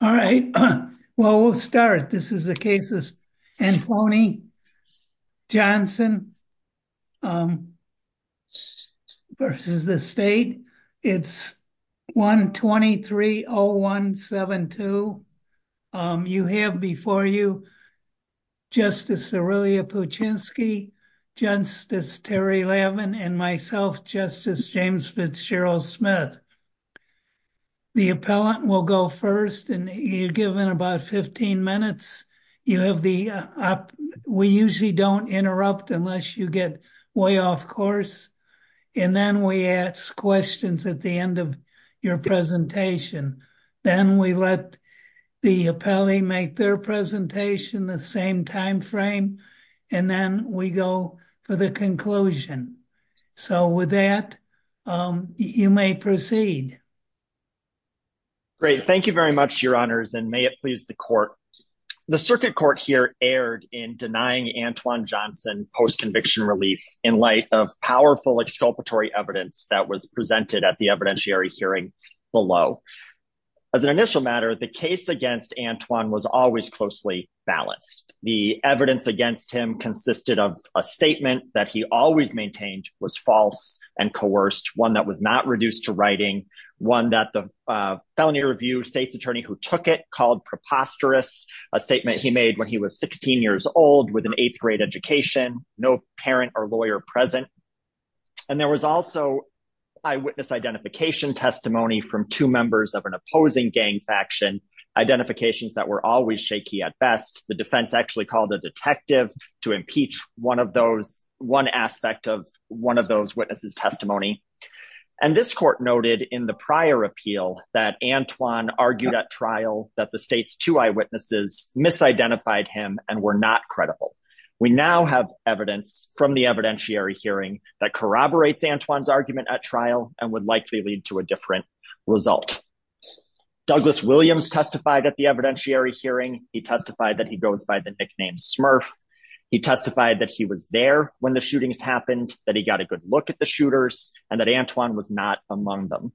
All right, well we'll start. This is the case of Anthony Johnson versus the state. It's 123-0172. You have before you Justice Aurelia Puchinsky, Justice Terry Lavin, and myself, Justice James Fitzgerald Smith. The appellant will go first, and you're given about 15 minutes. We usually don't interrupt unless you get way off course, and then we ask questions at the end of your presentation. Then we let the appellee make their presentation the same time frame, and then we go for the conclusion. So with that, you may proceed. Great. Thank you very much, Your Honors, and may it please the Court. The Circuit Court here erred in denying Antwon Johnson post-conviction relief in light of powerful exculpatory evidence that was presented at the evidentiary hearing below. As an initial matter, the case against Antwon was always closely balanced. The evidence against him consisted of a statement that he always maintained was false and coerced, one that was not reduced to writing, one that the felony review state's attorney who took it called preposterous, a statement he made when he was 16 years old with an eighth-grade education, no parent or lawyer present. And there was also eyewitness identification testimony from two members of an opposing gang faction, identifications that were always shaky at best. The defense actually called a detective to impeach one aspect of one of those witnesses' testimony. And this court noted in the prior appeal that Antwon argued at trial that the state's two eyewitnesses misidentified him and were not credible. We now have evidence from the evidentiary hearing that corroborates Antwon's trial and would likely lead to a different result. Douglas Williams testified at the evidentiary hearing. He testified that he goes by the nickname Smurf. He testified that he was there when the shootings happened, that he got a good look at the shooters, and that Antwon was not among them.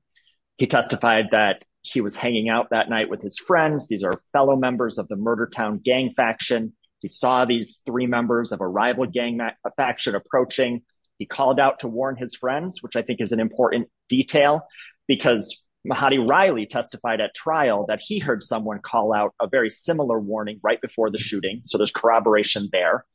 He testified that he was hanging out that night with his friends. These are fellow members of the Murder Town gang faction. He saw these three members of a rival gang faction approaching. He called out to warn his friends, which I think is an important detail, because Mahati Riley testified at trial that he heard someone call out a very similar warning right before the shooting. So there's corroboration there.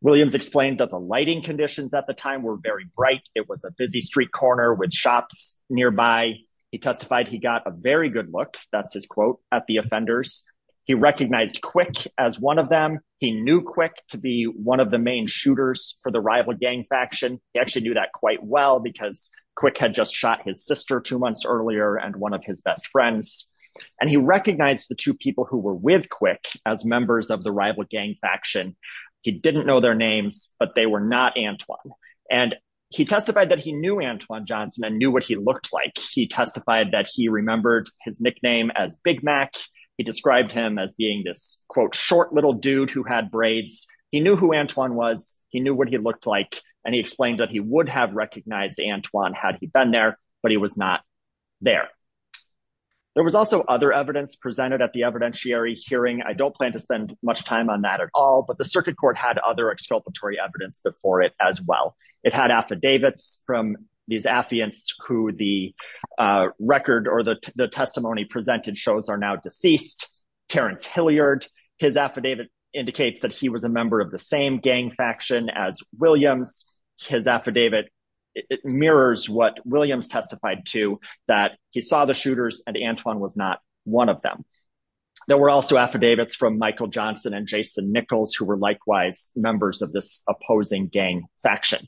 Williams explained that the lighting conditions at the time were very bright. It was a busy street corner with shops nearby. He testified he got a very good look, that's his quote, at the offenders. He recognized Quick as one of them. He knew Quick to be one of the main shooters for the rival gang faction. He actually knew that quite well because Quick had just shot his sister two months earlier and one of his best friends. And he recognized the two people who were with Quick as members of the rival gang faction. He didn't know their names, but they were not Antwon. And he testified that he knew Antwon Johnson and knew what he looked like. He testified that he remembered his nickname as Big Mac. He described him as being this quote, short little dude who had braids. He knew who Antwon was. He knew what he looked like. And he explained that he would have recognized Antwon had he been there, but he was not there. There was also other evidence presented at the evidentiary hearing. I don't plan to spend much time on that at all, but the circuit court had other exculpatory evidence before it as well. It had affidavits from these affiants who the record or the testimony presented shows are now deceased. Terence Hilliard, his affidavit indicates that he was a member of the same gang faction as Williams. His affidavit mirrors what Williams testified to that he saw the shooters and Antwon was not one of them. There were also affidavits from Michael Johnson and Jason Nichols who were likewise members of this opposing gang faction.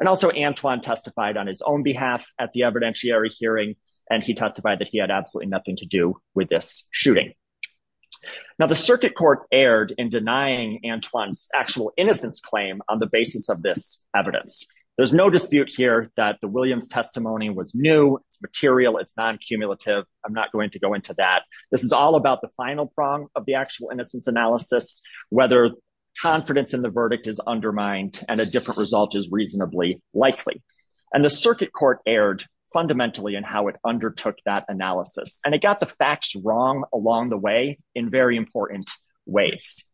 And also Antwon testified on his own at the evidentiary hearing, and he testified that he had absolutely nothing to do with this shooting. Now the circuit court erred in denying Antwon's actual innocence claim on the basis of this evidence. There's no dispute here that the Williams testimony was new. It's material. It's non-cumulative. I'm not going to go into that. This is all about the final prong of the actual innocence analysis, whether confidence in the verdict is undermined and a different result is reasonably likely. And the circuit court erred fundamentally in how it undertook that analysis. And it got the facts wrong along the way in very important ways.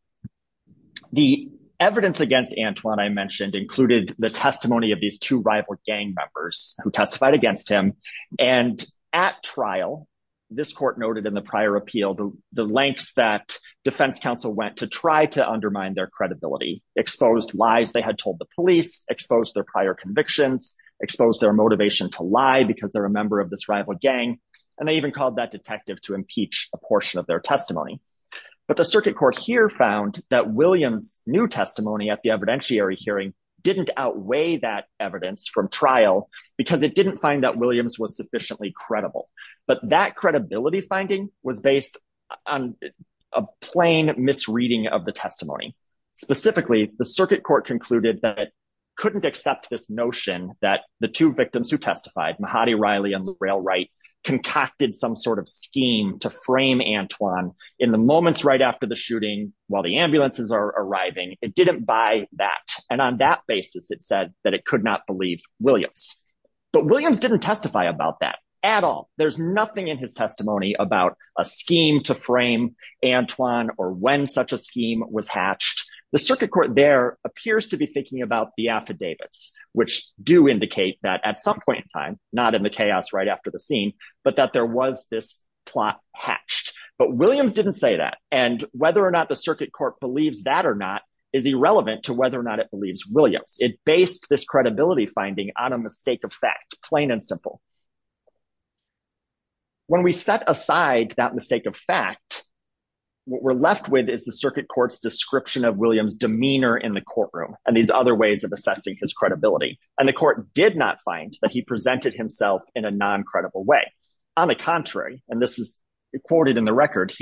The evidence against Antwon, I mentioned, included the testimony of these two rival gang members who testified against him. And at trial, this court noted in the prior appeal, the lengths that defense counsel went to to undermine their credibility, exposed lies they had told the police, exposed their prior convictions, exposed their motivation to lie because they're a member of this rival gang. And they even called that detective to impeach a portion of their testimony. But the circuit court here found that Williams' new testimony at the evidentiary hearing didn't outweigh that evidence from trial because it didn't find that Williams was sufficiently credible. But that credibility finding was based on a plain misreading of the testimony. Specifically, the circuit court concluded that it couldn't accept this notion that the two victims who testified, Mahati Riley and Leroy Wright, concocted some sort of scheme to frame Antwon in the moments right after the shooting while the ambulances are arriving. It didn't buy that. And on that basis, it said that it could not believe Williams. But Williams didn't testify about that at all. There's nothing in his testimony about a scheme to frame Antwon or when such a scheme was hatched. The circuit court there appears to be thinking about the affidavits, which do indicate that at some point in time, not in the chaos right after the scene, but that there was this plot hatched. But Williams didn't say that. And whether or not the circuit court believes that or not is irrelevant to whether or not it believes Williams. It based this credibility finding on a mistake of fact, plain and simple. When we set aside that mistake of fact, what we're left with is the circuit court's description of Williams' demeanor in the courtroom and these other ways of assessing his credibility. And the court did not find that he presented himself in a non-credible way. On the contrary, and this is recorded in the record,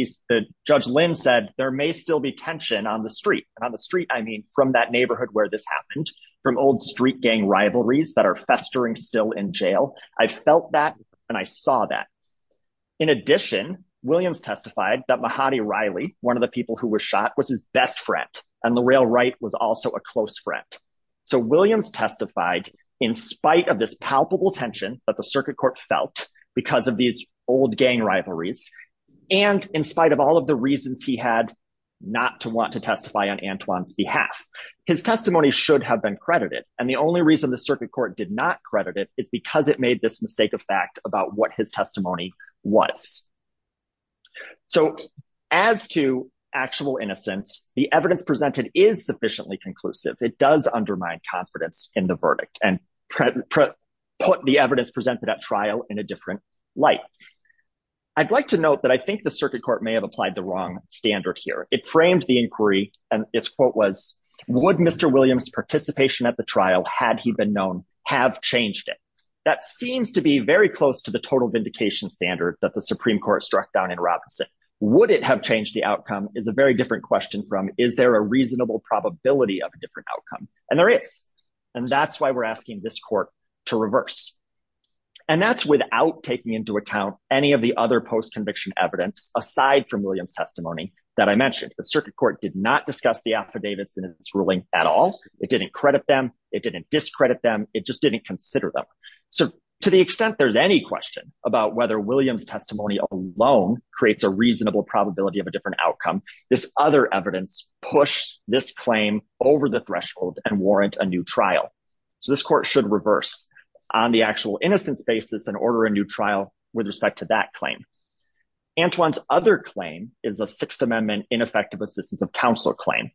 Judge Lynn said, there may still be tension on the street. And on the street, I mean, from that neighborhood where this happened, from old street gang rivalries that are festering still in jail, I felt that and I saw that. In addition, Williams testified that Mahadi Riley, one of the people who was shot, was his best friend. And L'Oreal Wright was also a close friend. So Williams testified in spite of this palpable tension that the circuit court felt because of these old gang rivalries. And in spite of all of the reasons he had not to want to testify on Antoine's behalf, his testimony should have been credited. And the only reason the circuit court did not credit it is because it made this mistake of fact about what his testimony was. So as to actual innocence, the evidence presented is sufficiently conclusive. It does undermine confidence in the verdict and put the evidence presented at trial in a different light. I'd like to note that I think the circuit court may have applied the wrong standard here. It framed the inquiry and its quote was, would Mr. Williams' participation at the trial, had he been known, have changed it? That seems to be very close to the total vindication standard that the Supreme Court struck down in Robinson. Would it have changed the outcome is a very different question from is there a reasonable probability of a different outcome? And there is. And that's why we're asking this court to reverse. And that's without taking into account any of the other post-conviction evidence aside from Williams' testimony that I mentioned. The circuit court did not discuss the affidavits in its ruling at all. It didn't credit them. It didn't discredit them. It just didn't consider them. So to the extent there's any question about whether Williams' testimony alone creates a reasonable probability of a different outcome, this other evidence pushed this claim over the threshold and warrant a new So this court should reverse on the actual innocence basis and order a new trial with respect to that claim. Antoine's other claim is a Sixth Amendment ineffective assistance of counsel claim.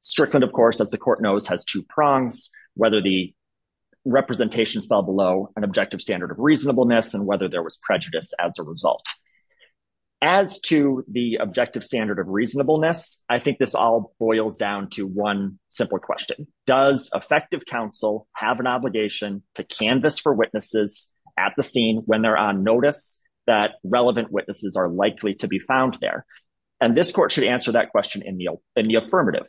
Strickland, of course, as the court knows, has two prongs, whether the representation fell below an objective standard of reasonableness and whether there was prejudice as a result. As to the objective standard of reasonableness, I think this all boils down to one simple question. Does effective counsel have an obligation to canvas for witnesses at the scene when they're on notice that relevant witnesses are likely to be found there? And this court should answer that question in the affirmative.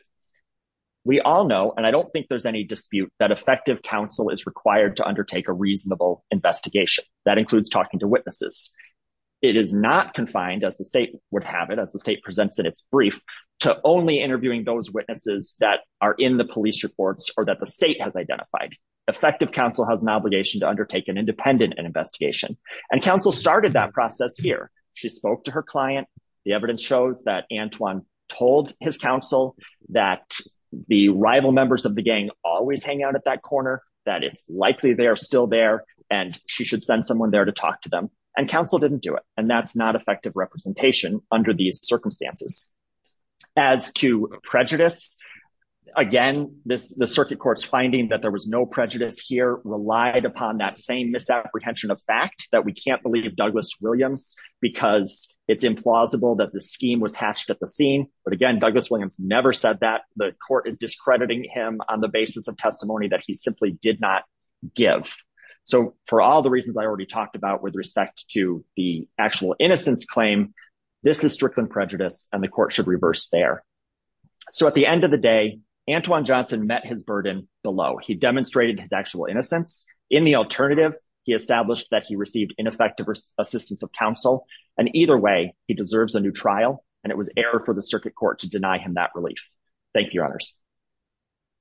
We all know, and I don't think there's any dispute, that effective counsel is required to undertake a reasonable investigation. That includes talking to witnesses. It is not confined, as the state would have it, the state presents in its brief, to only interviewing those witnesses that are in the police reports or that the state has identified. Effective counsel has an obligation to undertake an independent investigation. And counsel started that process here. She spoke to her client. The evidence shows that Antoine told his counsel that the rival members of the gang always hang out at that corner, that it's likely they are still there, and she should send someone there to talk to them. And counsel didn't do it. And that's not effective representation under these circumstances. As to prejudice, again, the circuit court's finding that there was no prejudice here relied upon that same misapprehension of fact, that we can't believe Douglas Williams because it's implausible that the scheme was hatched at the scene. But again, Douglas Williams never said that. The court is discrediting him on the basis of testimony that he simply did not give. So for all the reasons I already talked about with respect to the actual innocence claim, this is strict on prejudice and the court should reverse there. So at the end of the day, Antoine Johnson met his burden below. He demonstrated his actual innocence. In the alternative, he established that he received ineffective assistance of counsel. And either way, he deserves a new trial. And it was error for the circuit court to deny him that relief. Thank you, Your Honors.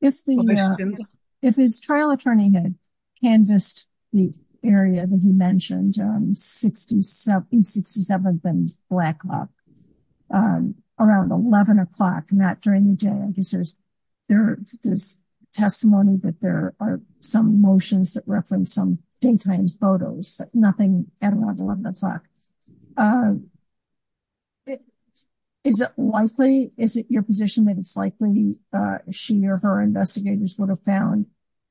If his trial attorney had canvassed the area that he mentioned, 67th and Black Hawk, around 11 o'clock, not during the day, I guess there's testimony that there are some motions that reference some daytime photos, but nothing at around 11 o'clock. Is it likely, is it your she or her investigators would have found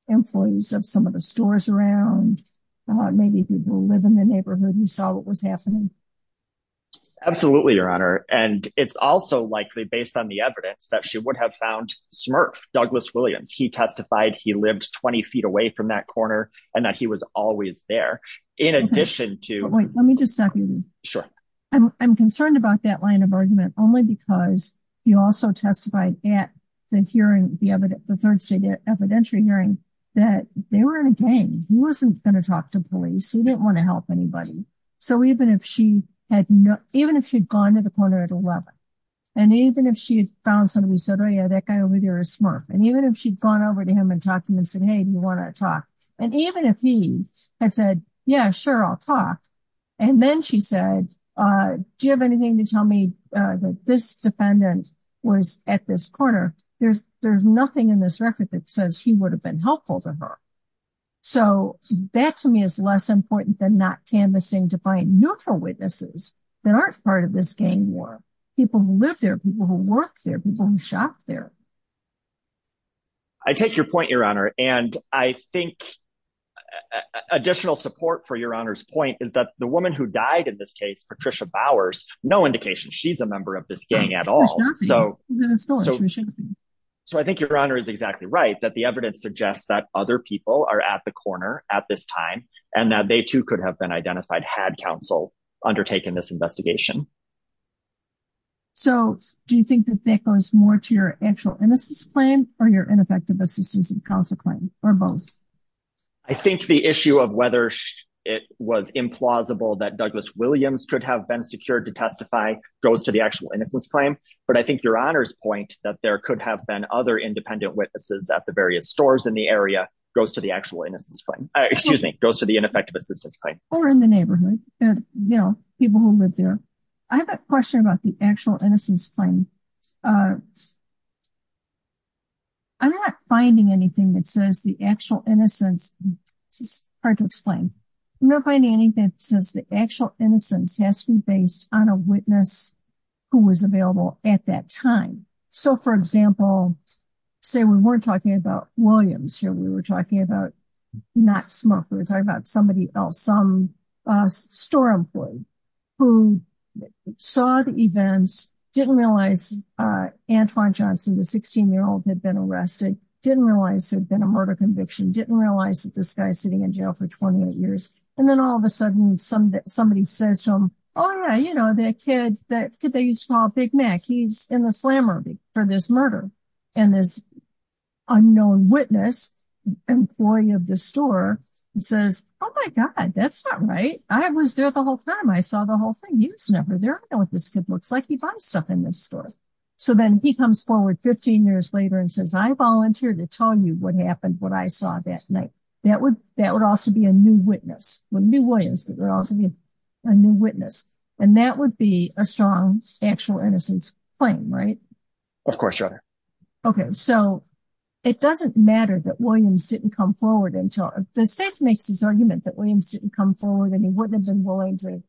employees of some of the stores around? Maybe people live in the neighborhood who saw what was happening? Absolutely, Your Honor. And it's also likely based on the evidence that she would have found Smurf, Douglas Williams, he testified he lived 20 feet away from that corner, and that he was always there. In addition to... Wait, let me just stop you. Sure. I'm concerned about that line of argument only because he also testified at the hearing, the third state evidentiary hearing, that they were in a game. He wasn't going to talk to police. He didn't want to help anybody. So even if she had gone to the corner at 11, and even if she had found something, we said, oh, yeah, that guy over there is Smurf. And even if she'd gone over to him and talked to him and said, hey, do you want to talk? And even if he had said, yeah, sure, I'll talk. And then she said, do you have anything to tell me that this defendant was at this corner? There's nothing in this record that says he would have been helpful to her. So that to me is less important than not canvassing to find neutral witnesses that aren't part of this gang war. People who live there, people who work there, people who shop there. I take your point, Your Honor. And I think additional support for Your Honor's point is that the woman who died in this case, Patricia Bowers, no indication she's a member of this gang at all. So I think Your Honor is exactly right that the evidence suggests that other people are at the corner at this time, and that they too could have been identified had counsel undertaken this investigation. So do you think that that goes more to your actual innocence claim or your ineffective assistance in counsel claim or both? I think the issue of whether it was implausible that Douglas Williams could have been secured to testify goes to the actual innocence claim. But I think Your Honor's point that there could have been other independent witnesses at the various stores in the area goes to the actual innocence claim. Excuse me, goes to the ineffective assistance claim. Or in the neighborhood, you know, people who live there. I have a question about the actual innocence claim. I'm not finding anything that says the actual innocence, this is hard to explain. I'm not finding anything that says the actual innocence has to be based on a witness who was available at that time. So for example, say we weren't talking about Williams here, we were talking about not Smurf, we were talking about somebody else, some store employee who saw the events, didn't realize Antoine Johnson, the 16-year-old, had been arrested, didn't realize there'd been a murder conviction, didn't realize that this guy's sitting in jail for 28 years. And then all of a sudden, somebody says to him, oh yeah, you know, that kid that they used to call Big Mac, he's in the slammer for this murder. And this unknown witness, employee of the store, says, oh my God, that's not right. I was there the whole time. I saw the whole thing. He was never there. I know what this kid looks like. He buys stuff in this store. So then he comes forward 15 years later and says, I volunteered to tell you what happened, what I saw that night. That would also be a new witness. It wouldn't be Williams, but it would also be a new witness. And that would be a strong actual innocence claim, right? Of course, Your Honor. Okay. So it doesn't matter that Williams didn't come forward until... The state makes this argument that Williams didn't come forward and he wouldn't have been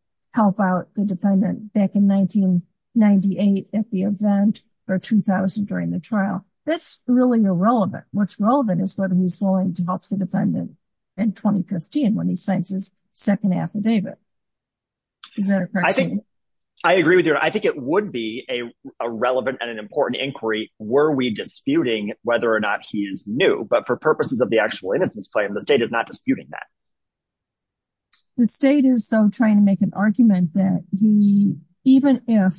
a defendant back in 1998 at the event or 2000 during the trial. That's really irrelevant. What's relevant is whether he's willing to help the defendant in 2015 when he signs his second affidavit. I agree with you. I think it would be a relevant and an important inquiry. Were we disputing whether or not he is new, but for purposes of the actual innocence claim, the state is not disputing that. The state is so trying to make an argument that he, even if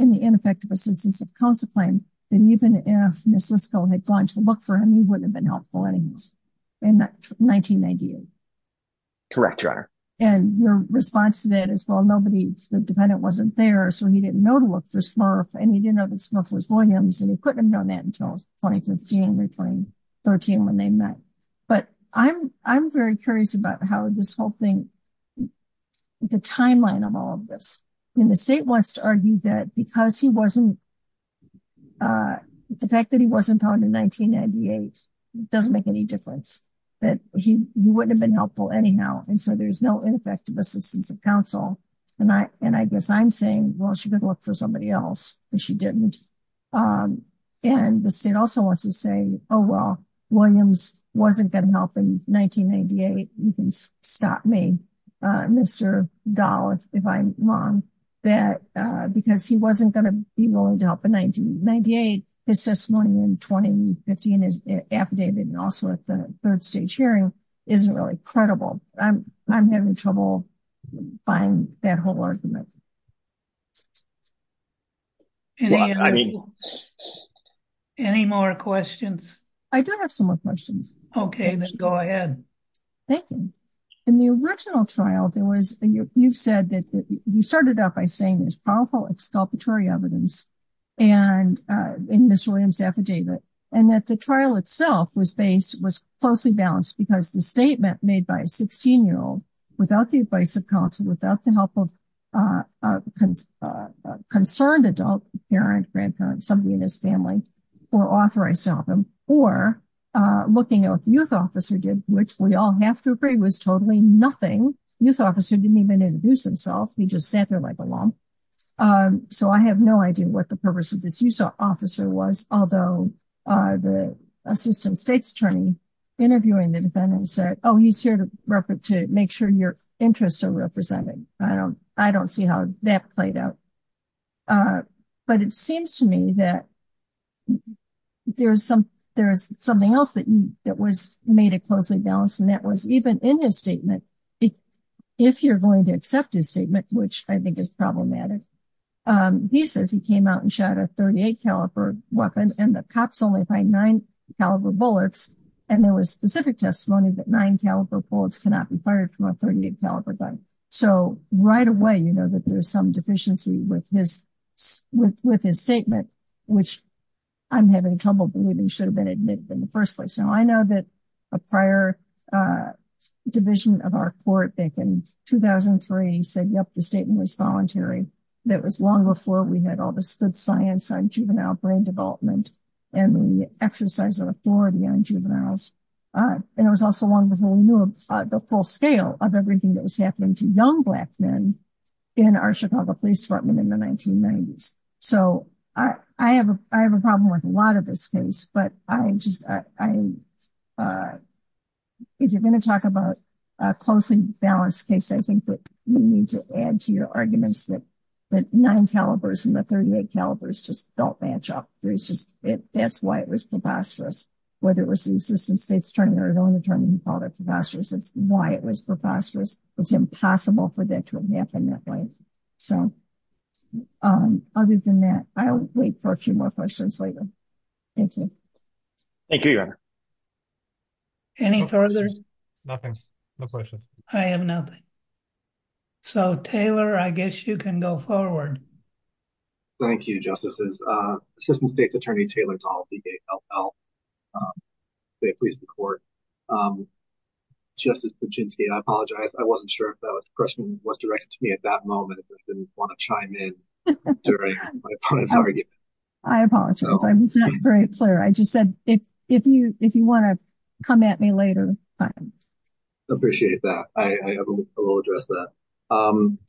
in the ineffective assistance of counsel claim, then even if Ms. Lisco had gone to look for him, he wouldn't have been helpful anyways in 1998. Correct, Your Honor. And your response to that is, well, nobody, the defendant wasn't there. So he didn't know to look for Smurf and he didn't know that Smurf was Williams and he couldn't have known that until 2015 or 2013 when they met. But I'm very curious about how this whole thing, the timeline of all of this. And the state wants to argue that because he wasn't, the fact that he wasn't found in 1998 doesn't make any difference, that he wouldn't have been helpful anyhow. And so there's no ineffective assistance of counsel. And I guess I'm saying, well, she didn't look for somebody else because she didn't. And the state also wants to say, oh, well, Williams wasn't going to help in 1998. You can stop me, Mr. Dahl, if I'm wrong, that because he wasn't going to be willing to help in 1998, his testimony in 2015 is affidavit and also at the third stage hearing isn't really credible. I'm having trouble buying that whole argument. Any more questions? I do have some more questions. Okay, then go ahead. Thank you. In the original trial, you've said that you started out by saying there's powerful exculpatory evidence in Mr. Williams' affidavit and that the trial itself was based, was closely balanced because the statement made by a 16-year-old without the advice of counsel, without the help of a concerned adult, parent, grandparent, somebody in his family, or authorized to help him, or looking at what the youth officer did, which we all have to agree was totally nothing. Youth officer didn't even introduce himself. He just sat there like a lump. So I have no idea what the purpose of this youth officer was, although the assistant state's attorney interviewing the defendant said, oh, he's here to make sure your interests are represented. I don't see how that played out. But it seems to me that there's something else that was made a closely balanced, and that was even in his statement, if you're going to accept his statement, which I think is problematic, he says he came out and shot a 38-caliber weapon, and the cops only find nine-caliber bullets, and there was specific testimony that nine-caliber bullets cannot be fired from a 38-caliber gun. So right away, you know that there's some deficiency with his statement, which I'm having trouble believing should have been admitted in the first place. Now, I know that a prior division of our court back in 2003 said, yep, the statement was voluntary. That was long before we had all this good science on juvenile brain development and the exercise of authority on juveniles. And it was also long before we knew the full scale of everything that was happening to young Black men in our Chicago Police Department in the 1990s. So I have a problem with a lot of this case, but if you're going to talk about a closely balanced case, I think that you need to add to your arguments that nine calibers and the 38 calibers just don't match up. That's why it was preposterous. Whether it was the Assistant State's attorney or his own attorney who called it preposterous, that's why it was preposterous. It's impossible for that to have happened that way. So other than that, I'll wait for a few more questions later. Thank you. Thank you, Your Honor. Any further? Nothing. No questions. I have nothing. So Taylor, I guess you can go forward. Thank you, Justices. Assistant State's Attorney Taylor Dahl, D-A-L-L. They appeased the court. Justice Kuczynski, I apologize. I wasn't sure if that question was directed to me at that moment. I didn't want to chime in during my opponent's argument. I apologize. I was not very clear. I just said, if you want to come at me later, fine. Appreciate that. I will address that.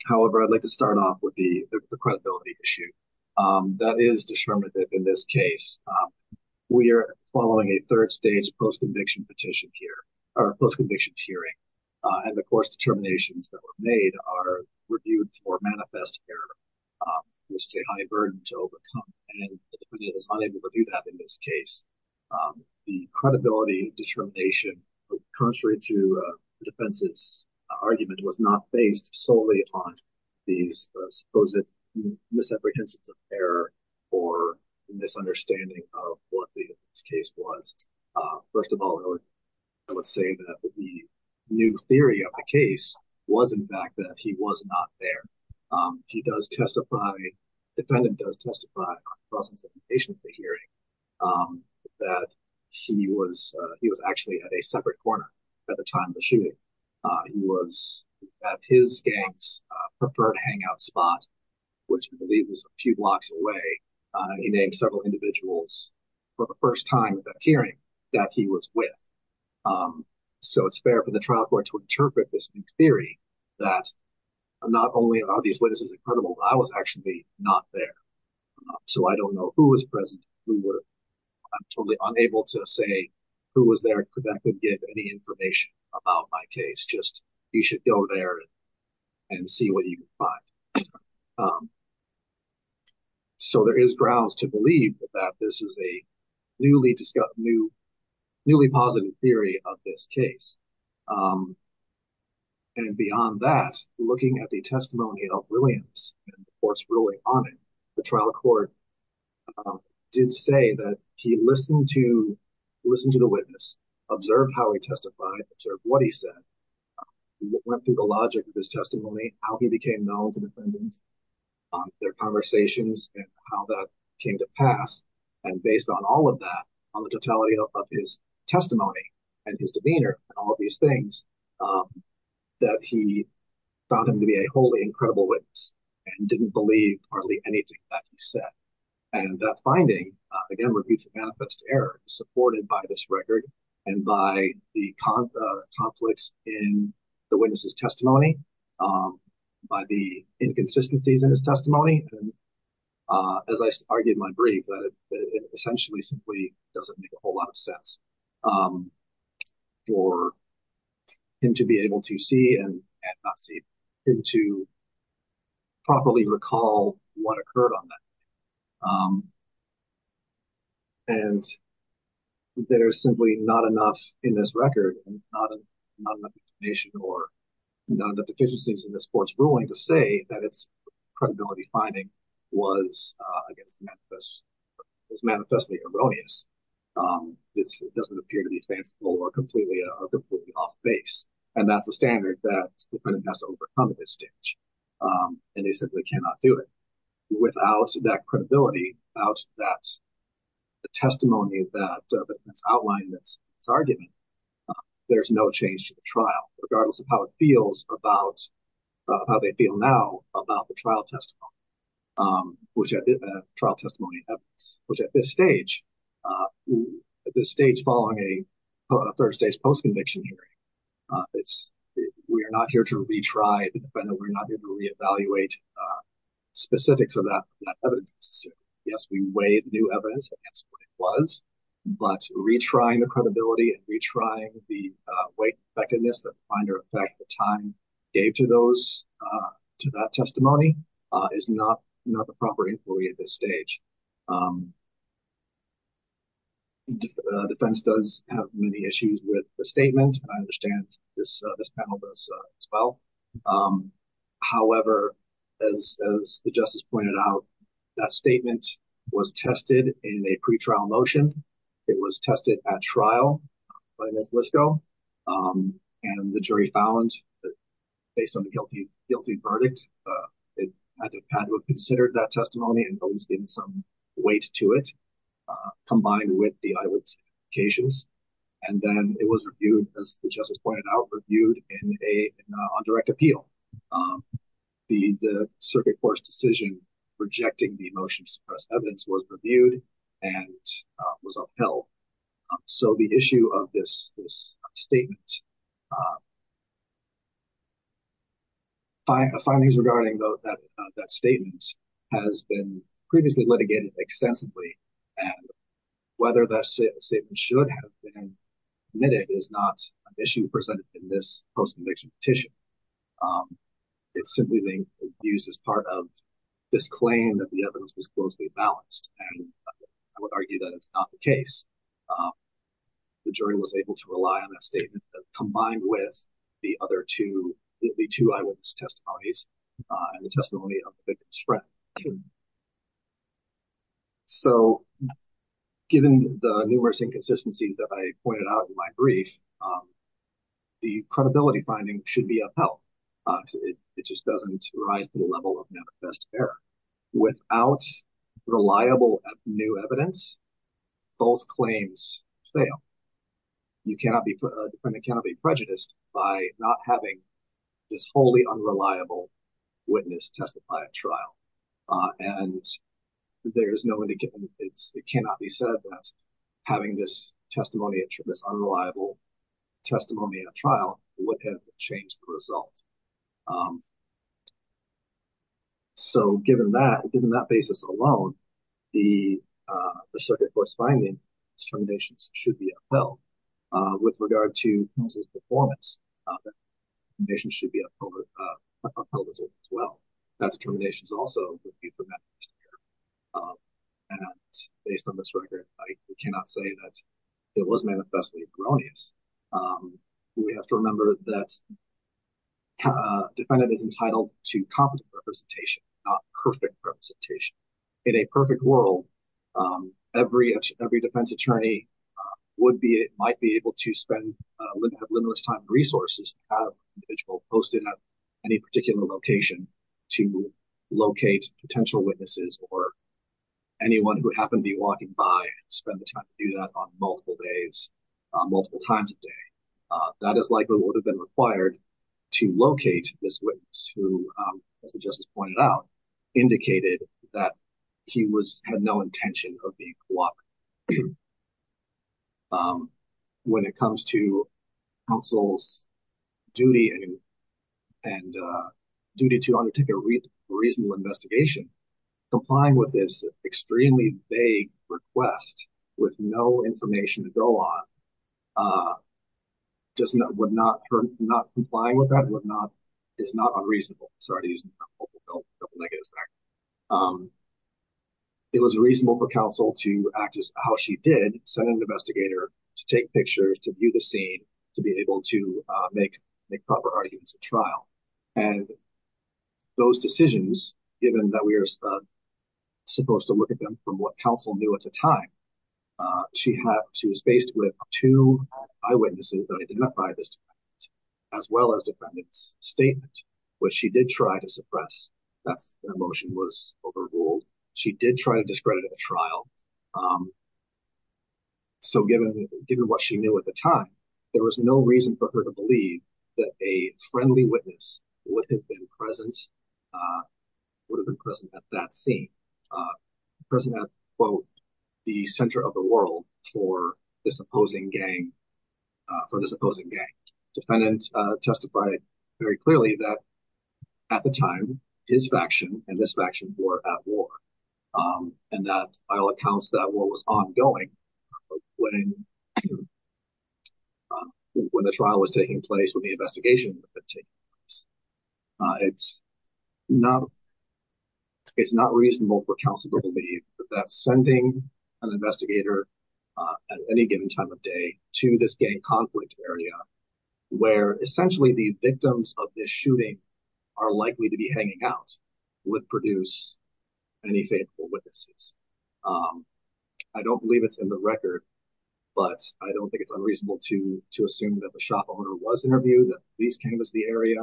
However, I'd like to start off with the credibility issue. That is determinative in this case. We are following a third stage post-conviction petition here, or post-conviction hearing. And of course, determinations that were made are reviewed for manifest error, which is a high burden to overcome. And the defendant is unable to do that in this case. The credibility determination, contrary to the defense's argument, was not based solely upon these supposed misapprehensions of error or misunderstanding of what this case was. First of all, I would say that the new theory of the case was, in fact, that he was not there. He does testify, the defendant does testify, in the process of the hearing, that he was actually at a separate corner at the time of the shooting. He was at his gang's preferred hangout spot, which I believe was a few blocks away. He named several individuals for the first time at that hearing that he was with. So it's fair for the trial court to interpret this new theory that not only are these witnesses incredible, I was actually not there. So I don't know who was present, who were. I'm totally unable to say who was there that could give any information about my case. Just, you should go there and see what you can find. So there is grounds to believe that this is a newly positive theory of this case. And beyond that, looking at the testimony of Williams, and of course, ruling on it, the trial court did say that he listened to the witness, observed how he testified, observed what he said, went through the logic of his testimony, how he became known to defendants, their conversations, and how that came to pass. And based on all of that, on the totality of his testimony, and his demeanor, and all of these things, that he found him to be a wholly incredible witness, and didn't believe hardly anything that he said. And that finding, again, error supported by this record, and by the conflicts in the witness's testimony, by the inconsistencies in his testimony, and as I argued in my brief, that it essentially simply doesn't make a whole lot of sense for him to be able to see, and not see, him to properly recall what occurred on that. And there's simply not enough in this record, and not enough information, or none of the deficiencies in this court's ruling to say that it's credibility finding was against the manifest, was manifestly erroneous. This doesn't appear to be fanciful, or completely off base. And that's the standard that the defendant has to overcome at this stage. And they simply cannot do it without that credibility, without that testimony that's outlined, that's arguing, there's no change to the trial, regardless of how it feels about, how they feel now about the trial testimony, which trial testimony evidence, which at this stage, at this stage following a third stage post-conviction hearing, we are not here to retry the defendant, we're not here to reevaluate specifics of that evidence. Yes, we weighed new evidence against what it was, but retrying the credibility, and retrying the white effectiveness, that finder effect the time gave to those, to that testimony, is not the proper inquiry at this stage. Defense does have many issues with the statement, I understand this panel does as well. However, as the justice pointed out, that statement was tested in a pre-trial motion, it was tested at trial by Ms. Lisko, and the jury found that based on the guilty verdict, it had to have considered that testimony, and at least given some weight to it, combined with the eyewitness cases. And then it was reviewed, as the justice pointed out, reviewed on direct appeal. The circuit court's decision, rejecting the motion to suppress evidence, was reviewed and was upheld. So the issue of this statement, the findings regarding that statement, has been previously litigated extensively, and whether that statement should have been admitted, is not an issue presented in this post-conviction petition. It's simply being used as part of this claim that the evidence was closely balanced, and I would argue that it's not the case. The jury was able to rely on that statement, combined with the two eyewitness testimonies, and the testimony of the victim's friend. So given the numerous inconsistencies that I pointed out in my brief, the credibility finding should be upheld. It just doesn't rise to the level of manifest error. Without reliable new evidence, both claims fail. You cannot be, a defendant cannot be prejudiced by not having this wholly unreliable witness testify at trial. And there's no way to get, it cannot be said that having this testimony, this unreliable testimony at trial, would have changed the result. So given that, given that basis alone, the circuit court's finding, its determinations should be upheld. With regard to Pencil's performance, the determinations should be upheld as well. That determination is also the proof of manifest error. And based on this record, I cannot say that it was manifestly erroneous. We have to remember that a defendant is entitled to competent representation, not perfect representation. In a perfect world, every defense attorney would be, might be able to spend, have limitless time and resources to have an individual posted at any particular location to locate potential witnesses or anyone who happened to be walking by and spend the time to do that on multiple days, multiple times a day. That is likely what would have been required to locate this witness who, as the justice pointed out, indicated that he was, had no intention of being co-opted. When it comes to counsel's duty and duty to undertake a reasonable investigation, complying with this extremely vague request with no information to go on, just not, would not, not complying with that, would not, is not unreasonable. Sorry to use a couple negatives there. It was reasonable for counsel to act as how she did, send an investigator to take pictures, to view the scene, to be able to make proper arguments at trial. And those decisions, given that we are supposed to look at them from what counsel knew at the time, she had, she was faced with two eyewitnesses that identified this defendant as well as defendant's statement, which she did try to suppress. That's the motion was overruled. She did try to discredit at the trial. So given, given what she knew at the time, there was no reason for her to believe that a friendly witness would have been present, would have been present at that scene, present at, quote, the center of the world for this opposing gang, for this opposing gang. Defendant testified very clearly that at the time, his faction and this faction were at war. And that, by all accounts, that war was ongoing when, when the trial was taking place, when the investigation was taking place. It's not, it's not reasonable for counsel to believe that sending an investigator at any given time of day to this gang conflict area, where essentially the victims of this shooting are likely to be hanging out, would produce any faithful witnesses. I don't believe it's in the record, but I don't think it's unreasonable to, to assume that the shop owner was interviewed, that these came as the area.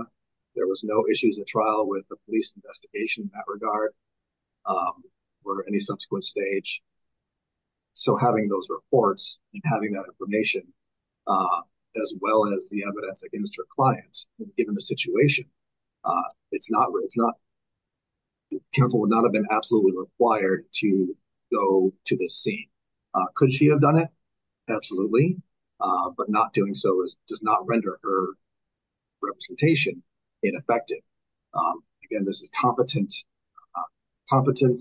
There was no issues at trial with the police investigation in that regard or any subsequent stage. So having those reports and having that information, as well as the evidence against her clients, given the situation, it's not, it's not, counsel would not have been absolutely required to go to this scene. Could she have done it? Absolutely. But not doing so is, does not render her representation ineffective. Again, this is competent, competent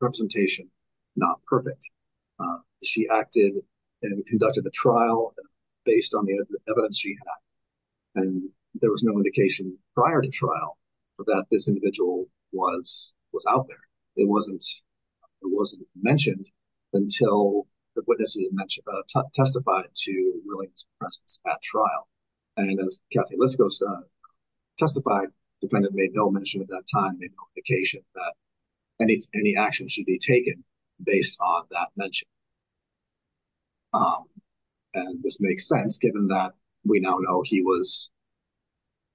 representation, not perfect. She acted and conducted the trial based on the evidence she had. And there was no indication prior to trial that this individual was, was out there. It wasn't, it wasn't mentioned until the witnesses testified to Williams' presence at trial. And as Kathy Liskos testified, defendant made no mention at that time, made no indication that any, any action should be taken based on that mention. And this makes sense given that we now know he was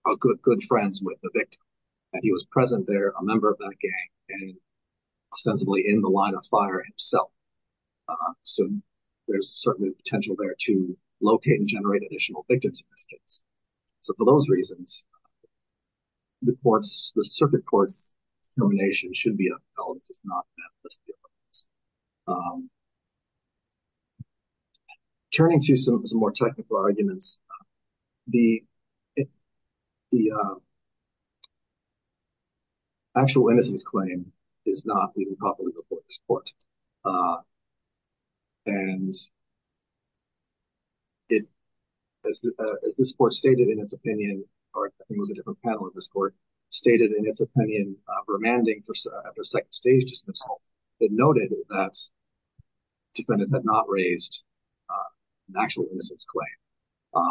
a good, good friends with the victim and he was present there, a member of that gang and ostensibly in the line of fire himself. So there's certainly a potential there to locate and generate additional victims in this case. So for those reasons, the courts, the circuit court's termination should be upheld. It's not meant to steal. Turning to some, some more technical arguments, the, the actual innocence claim is not even properly before this court. And it, as, as this court stated in its opinion, or I think it was a different panel of this court, stated in its opinion, remanding for, after second stage dismissal, it noted that defendant had not raised an actual innocence claim.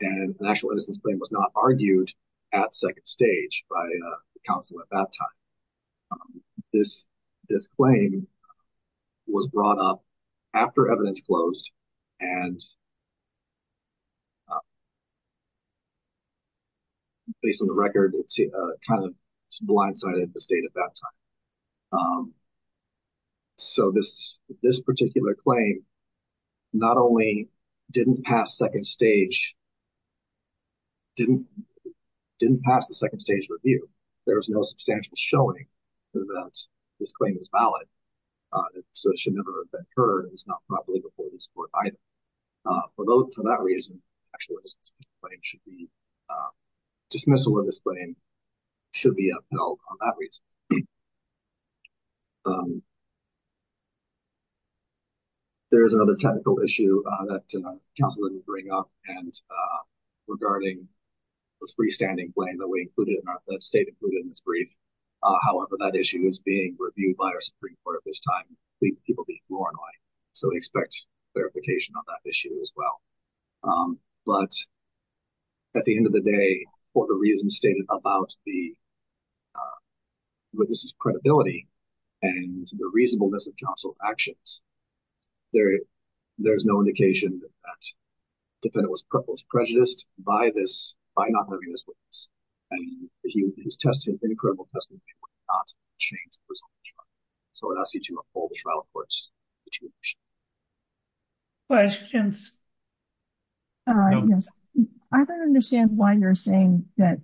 And an actual innocence claim was not argued at second stage by the counsel at that time. This, this claim was brought up after evidence closed and based on the record, it's kind of blindsided the state at that time. So this, this particular claim, not only didn't pass second stage, didn't, didn't pass the second stage review. There was no substantial showing that this claim is valid. So it should never have been heard. It was not properly before this court either. For those, for that reason, actual innocence claim should be, dismissal of this claim should be upheld on that reason. There's another technical issue that counsel didn't bring up. And regarding the freestanding claim that we included in our, that state included in this brief. However, that issue is being reviewed by our Supreme Court at this time. People get more annoyed. So expect verification on that issue as well. But at the end of the day, for the reasons stated about the, what this is credibility and the reasonableness of counsel's actions, there, there's no indication that defendant was prejudiced by this, by not having this witness. I mean, he, his testimony, incredible testimony would not change the result of the trial. So I would ask you to uphold the trial courts. Questions? All right, yes. I don't understand why you're saying that,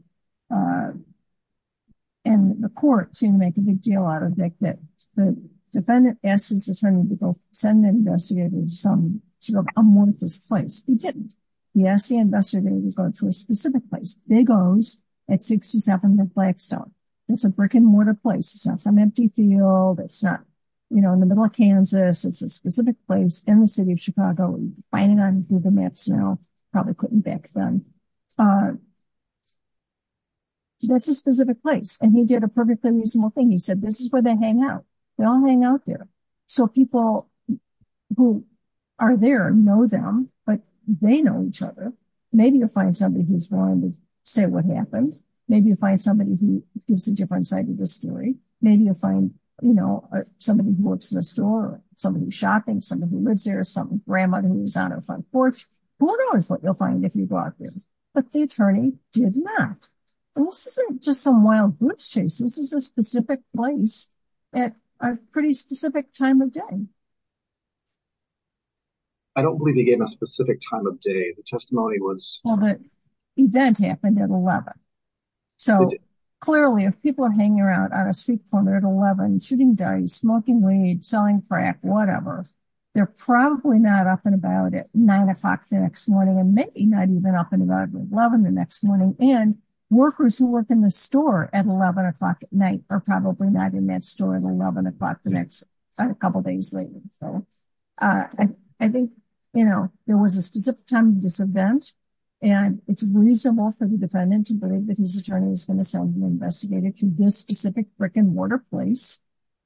and the court seemed to make a big deal out of it, that the defendant asked his attorney to go send an investigator to some, sort of amorphous place. He didn't. He asked the investigator to go to a specific place. Big O's at 67 Blackstone. It's a brick and mortar place. It's not some empty field. It's not, you know, in the middle of Kansas. It's a specific place in the city of Chicago. Finding on Google maps now, probably couldn't back then. That's a specific place. And he did a perfectly reasonable thing. He said, this is where they hang out. They all hang out there. So people who are there know them, but they know each other. Maybe you'll find somebody who's willing to say what happened. Maybe you'll find somebody who gives a different side of the story. Maybe you'll find, you know, somebody who works in a store, somebody who's shopping, somebody who lives there, some grandma who's on her front porch. Who knows what you'll find if you walk in. But the attorney did not. This isn't just some wild goose chase. This is a specific place at a pretty specific time of day. I don't believe he gave a specific time of day. The testimony was... Well, the event happened at 11. So clearly if people are hanging around on a street corner at 11, shooting dice, smoking weed, selling crack, whatever, they're probably not up and about at nine o'clock the next morning and maybe not even up and about at 11 the next morning. And workers who work in the store at 11 o'clock at night are probably not in that store at 11 o'clock the next couple days later. So I think, you know, there was a specific time of this event and it's reasonable for the defendant to believe that his attorney is going to send the investigator to this specific brick and mortar place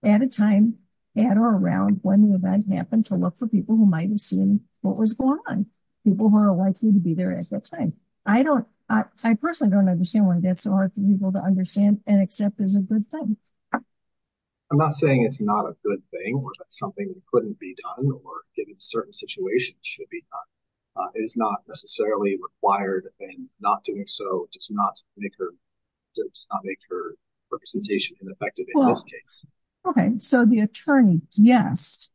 at a time at or around when the event happened to look for people who might have seen what was going on. People who are likely to be there at that time. I don't... I personally don't understand why that's so hard for people to understand and accept as a good thing. I'm not saying it's not a good thing or that's something that couldn't be done or given certain situations should be done. It is not necessarily required and not doing so does not make her representation ineffective in this case. Well, okay. So the attorney guessed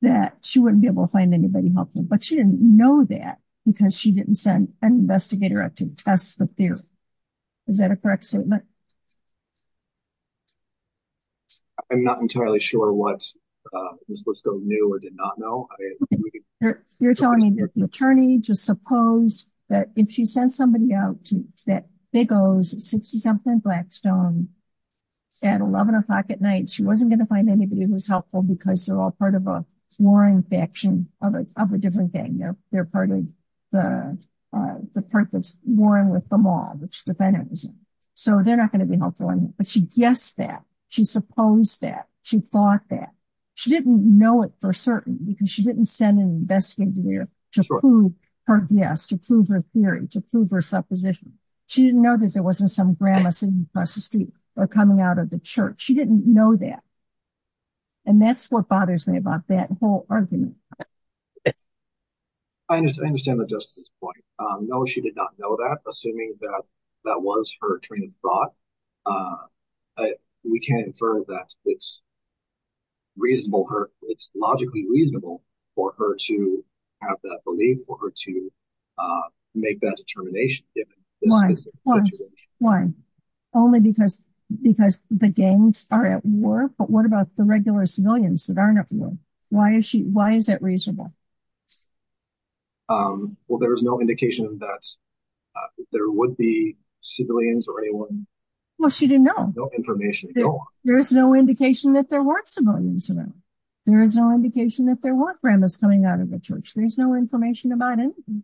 that she wouldn't be able to find anybody helpful, but she didn't know that because she didn't send an investigator up to test the theory. Is that a correct statement? I'm not entirely sure what Ms. Lisco knew or did not know. You're telling me the attorney just supposed that if she sent somebody out to that big O's at 67th and Blackstone at 11 o'clock at night, she wasn't going to find anybody who was helpful because they're all part of a warring faction of a different gang. They're part of the part that's warring with the mob, which the defendant was in. So they're not going to be helpful. But she guessed that. She supposed that. She thought that. She didn't know it for certain because she didn't send an investigator to prove her guess, to prove her theory, to prove her supposition. She didn't know that there wasn't some grandma sitting across the street or coming out of the church. She didn't know that. And that's what bothers me about that whole argument. I understand the justice point. No, she did not know that, assuming that that was her train of thought. We can't infer that it's reasonable. It's logically reasonable for her to have that belief, for her to make that determination. Why? Only because the gangs are at war. But what about the regular civilians that aren't at war? Why is that reasonable? Well, there is no indication that there would be civilians or anyone. Well, she didn't know. There is no indication that there weren't civilians around. There is no indication that there weren't grandmas coming out of the church. There's no information about anything.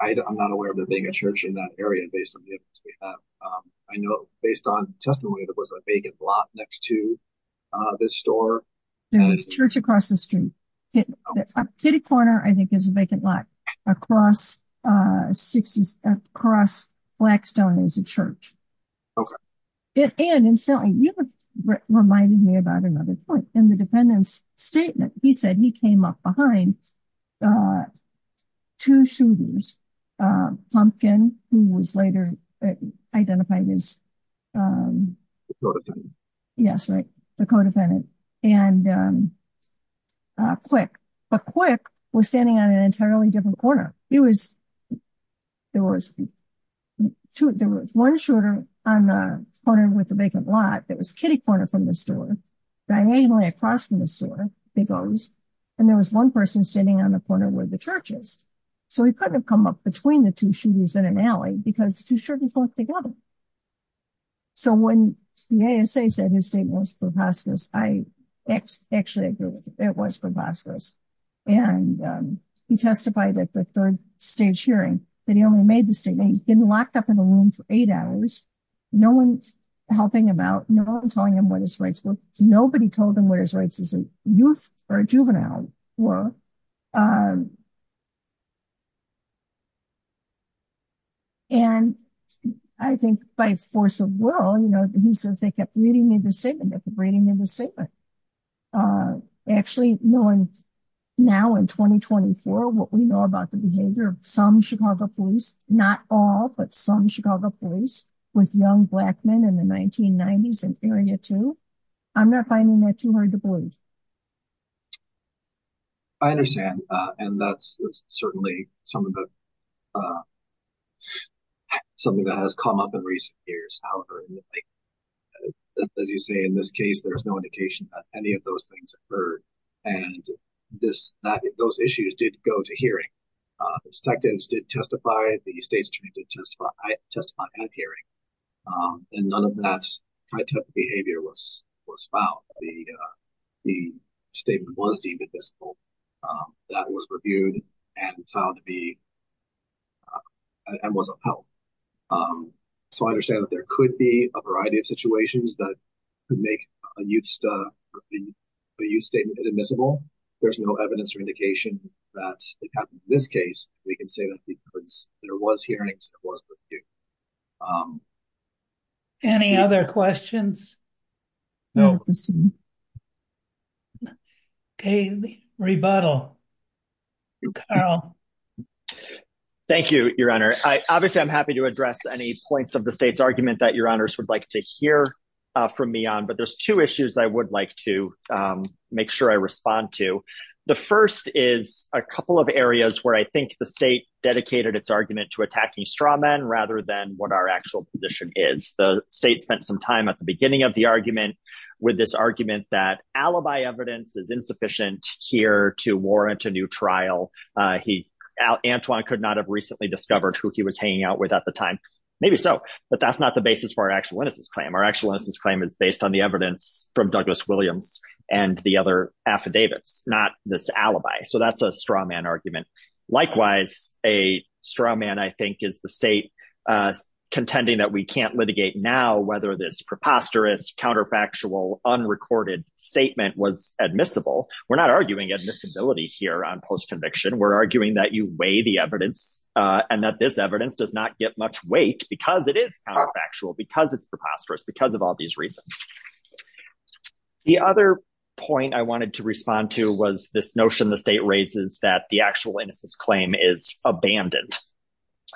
I'm not aware of there being a church in that area based on the evidence we have. I know, based on testimony, there was a vacant lot next to this store. There was a church across the street. Up Kitty Corner, I think, is a vacant lot. Across Blackstone is a church. Okay. And you have reminded me about another point. In the defendant's statement, he said he came up behind two shooters. Pumpkin, who was later identified as... Yes, right. The co-defendant. And Quick. But Quick was standing on an entirely different corner. He was... There was one shooter on the corner with the vacant lot. It was Kitty Corner from the store. Diagonally across from the store, he goes. And there was one person standing on the corner with the churches. So he couldn't have come up between the two shooters in an alley because two shooters weren't together. So when the ASA said his statement was preposterous, I actually agree with it. It was preposterous. And he testified at the third stage hearing that he only made the statement. He'd been locked up in a room for eight hours. No one helping him out. No one telling him what his rights were. Nobody told him what his rights as a youth or a juvenile were. And I think by force of will, he says they kept reading his statement. They kept reading his statement. Actually, now in 2024, what we know about the behavior of some Chicago police, not all, but some Chicago police with young Black men in the 1990s and Area 2. I'm not finding that too hard to believe. I understand. And that's certainly something that has come up in recent years. However, as you say, in this case, there's no indication that any of those things occurred. And those issues did go to hearing. The detectives did testify. The state's attorney did testify at hearing. And none of that type of behavior was found. The statement was deemed admissible. That was reviewed and found to be and was upheld. So I understand that there could be a variety of situations that could make a youth statement admissible. There's no evidence or indication that it happened in this case. We can say that because there was hearings. Any other questions? No. Okay. Rebuttal. Thank you, Your Honor. Obviously, I'm happy to address any points of the state's argument that Your Honors would like to hear from me on. But there's two issues I would like to make sure I respond to. The first is a couple of areas where I think the state dedicated its argument to attacking straw men rather than what our actual position is. The state spent some time at the beginning of the argument with this argument that alibi evidence is insufficient here to warrant a new trial. Antoine could not have recently discovered who he was hanging out with at the time. Maybe so. But that's not the basis for our actual innocence claim. Our actual innocence claim is based on the evidence from Douglas Williams and the other affidavits, not this alibi. So that's a straw man argument. Likewise, a straw man, I think, is the state contending that we can't litigate now whether this preposterous, counterfactual, unrecorded statement was admissible. We're not arguing admissibility here on post-conviction. We're arguing that you weigh the evidence and that this evidence does not get much weight because it is counterfactual, because it's preposterous, because of all these reasons. The other point I wanted to respond to was this notion the state raises that the actual innocence claim is abandoned.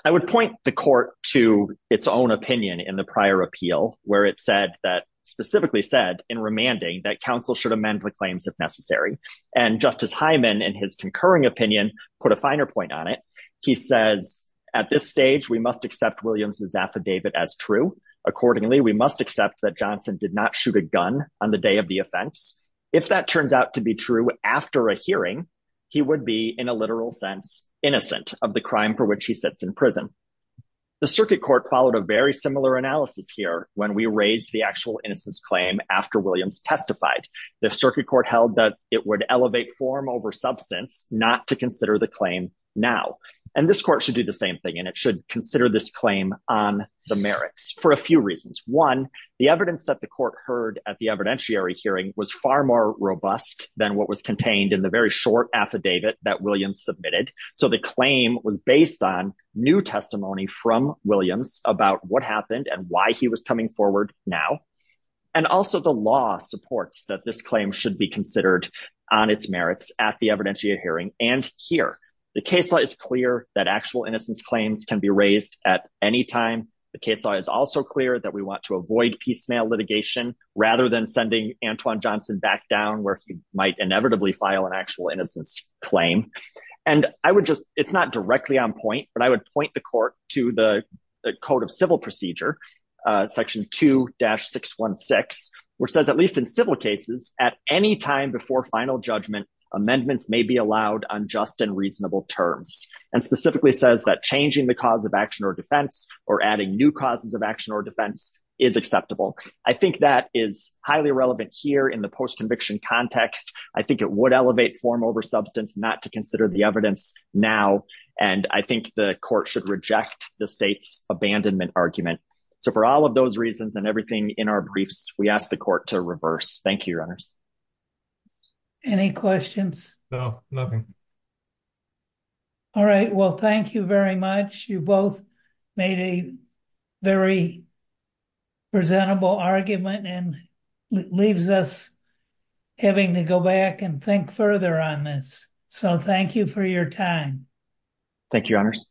I would point the court to its own opinion in the prior appeal, where it said that, specifically said in remanding, that counsel should amend the claims if necessary. And Justice Hyman, in his concurring opinion, put a finer point on it. He says, at this stage, we must accept Williams' affidavit as true. Accordingly, we must accept that Johnson did not shoot a gun on the day of the offense. If that turns out to be true after a hearing, he would be, in a literal sense, innocent of the crime for which he sits in prison. The circuit court followed a very similar analysis here when we raised the actual innocence claim after Williams testified. The circuit court held that it would elevate form over substance, not to consider the claim now. And this court should do the same thing, and it should consider this claim on the merits for a few reasons. One, the evidence that the court heard at the evidentiary hearing was far more robust than what was contained in the very short affidavit that Williams submitted. So the claim was based on new testimony from Williams about what happened and why he was coming forward now. And also the law supports that this claim should be considered on its merits at the evidentiary hearing. And here, the case law is clear that actual innocence claims can be raised at any time. The case law is also clear that we want to avoid piecemeal litigation rather than sending Antwon Johnson back down where he might inevitably file an actual innocence claim. And I would just, it's not directly on point, but I would point the court to the Code of Civil Procedure, section 2-616, which says, at least in civil cases, at any time before final judgment, amendments may be allowed on just and reasonable terms. And specifically says that changing the cause of action or defense or adding new causes of action or defense is acceptable. I think that is highly relevant here in the post-conviction context. I think it would elevate form over substance, not to consider the evidence now. And I think the court should reject the state's abandonment argument. So for all of those reasons and everything in our briefs, we ask the court to reverse. Thank you, your honors. Any questions? No, nothing. All right. Well, thank you very much. You both made a very presentable argument and it leaves us having to go back and think further on this. So thank you for your time. Thank you, your honors.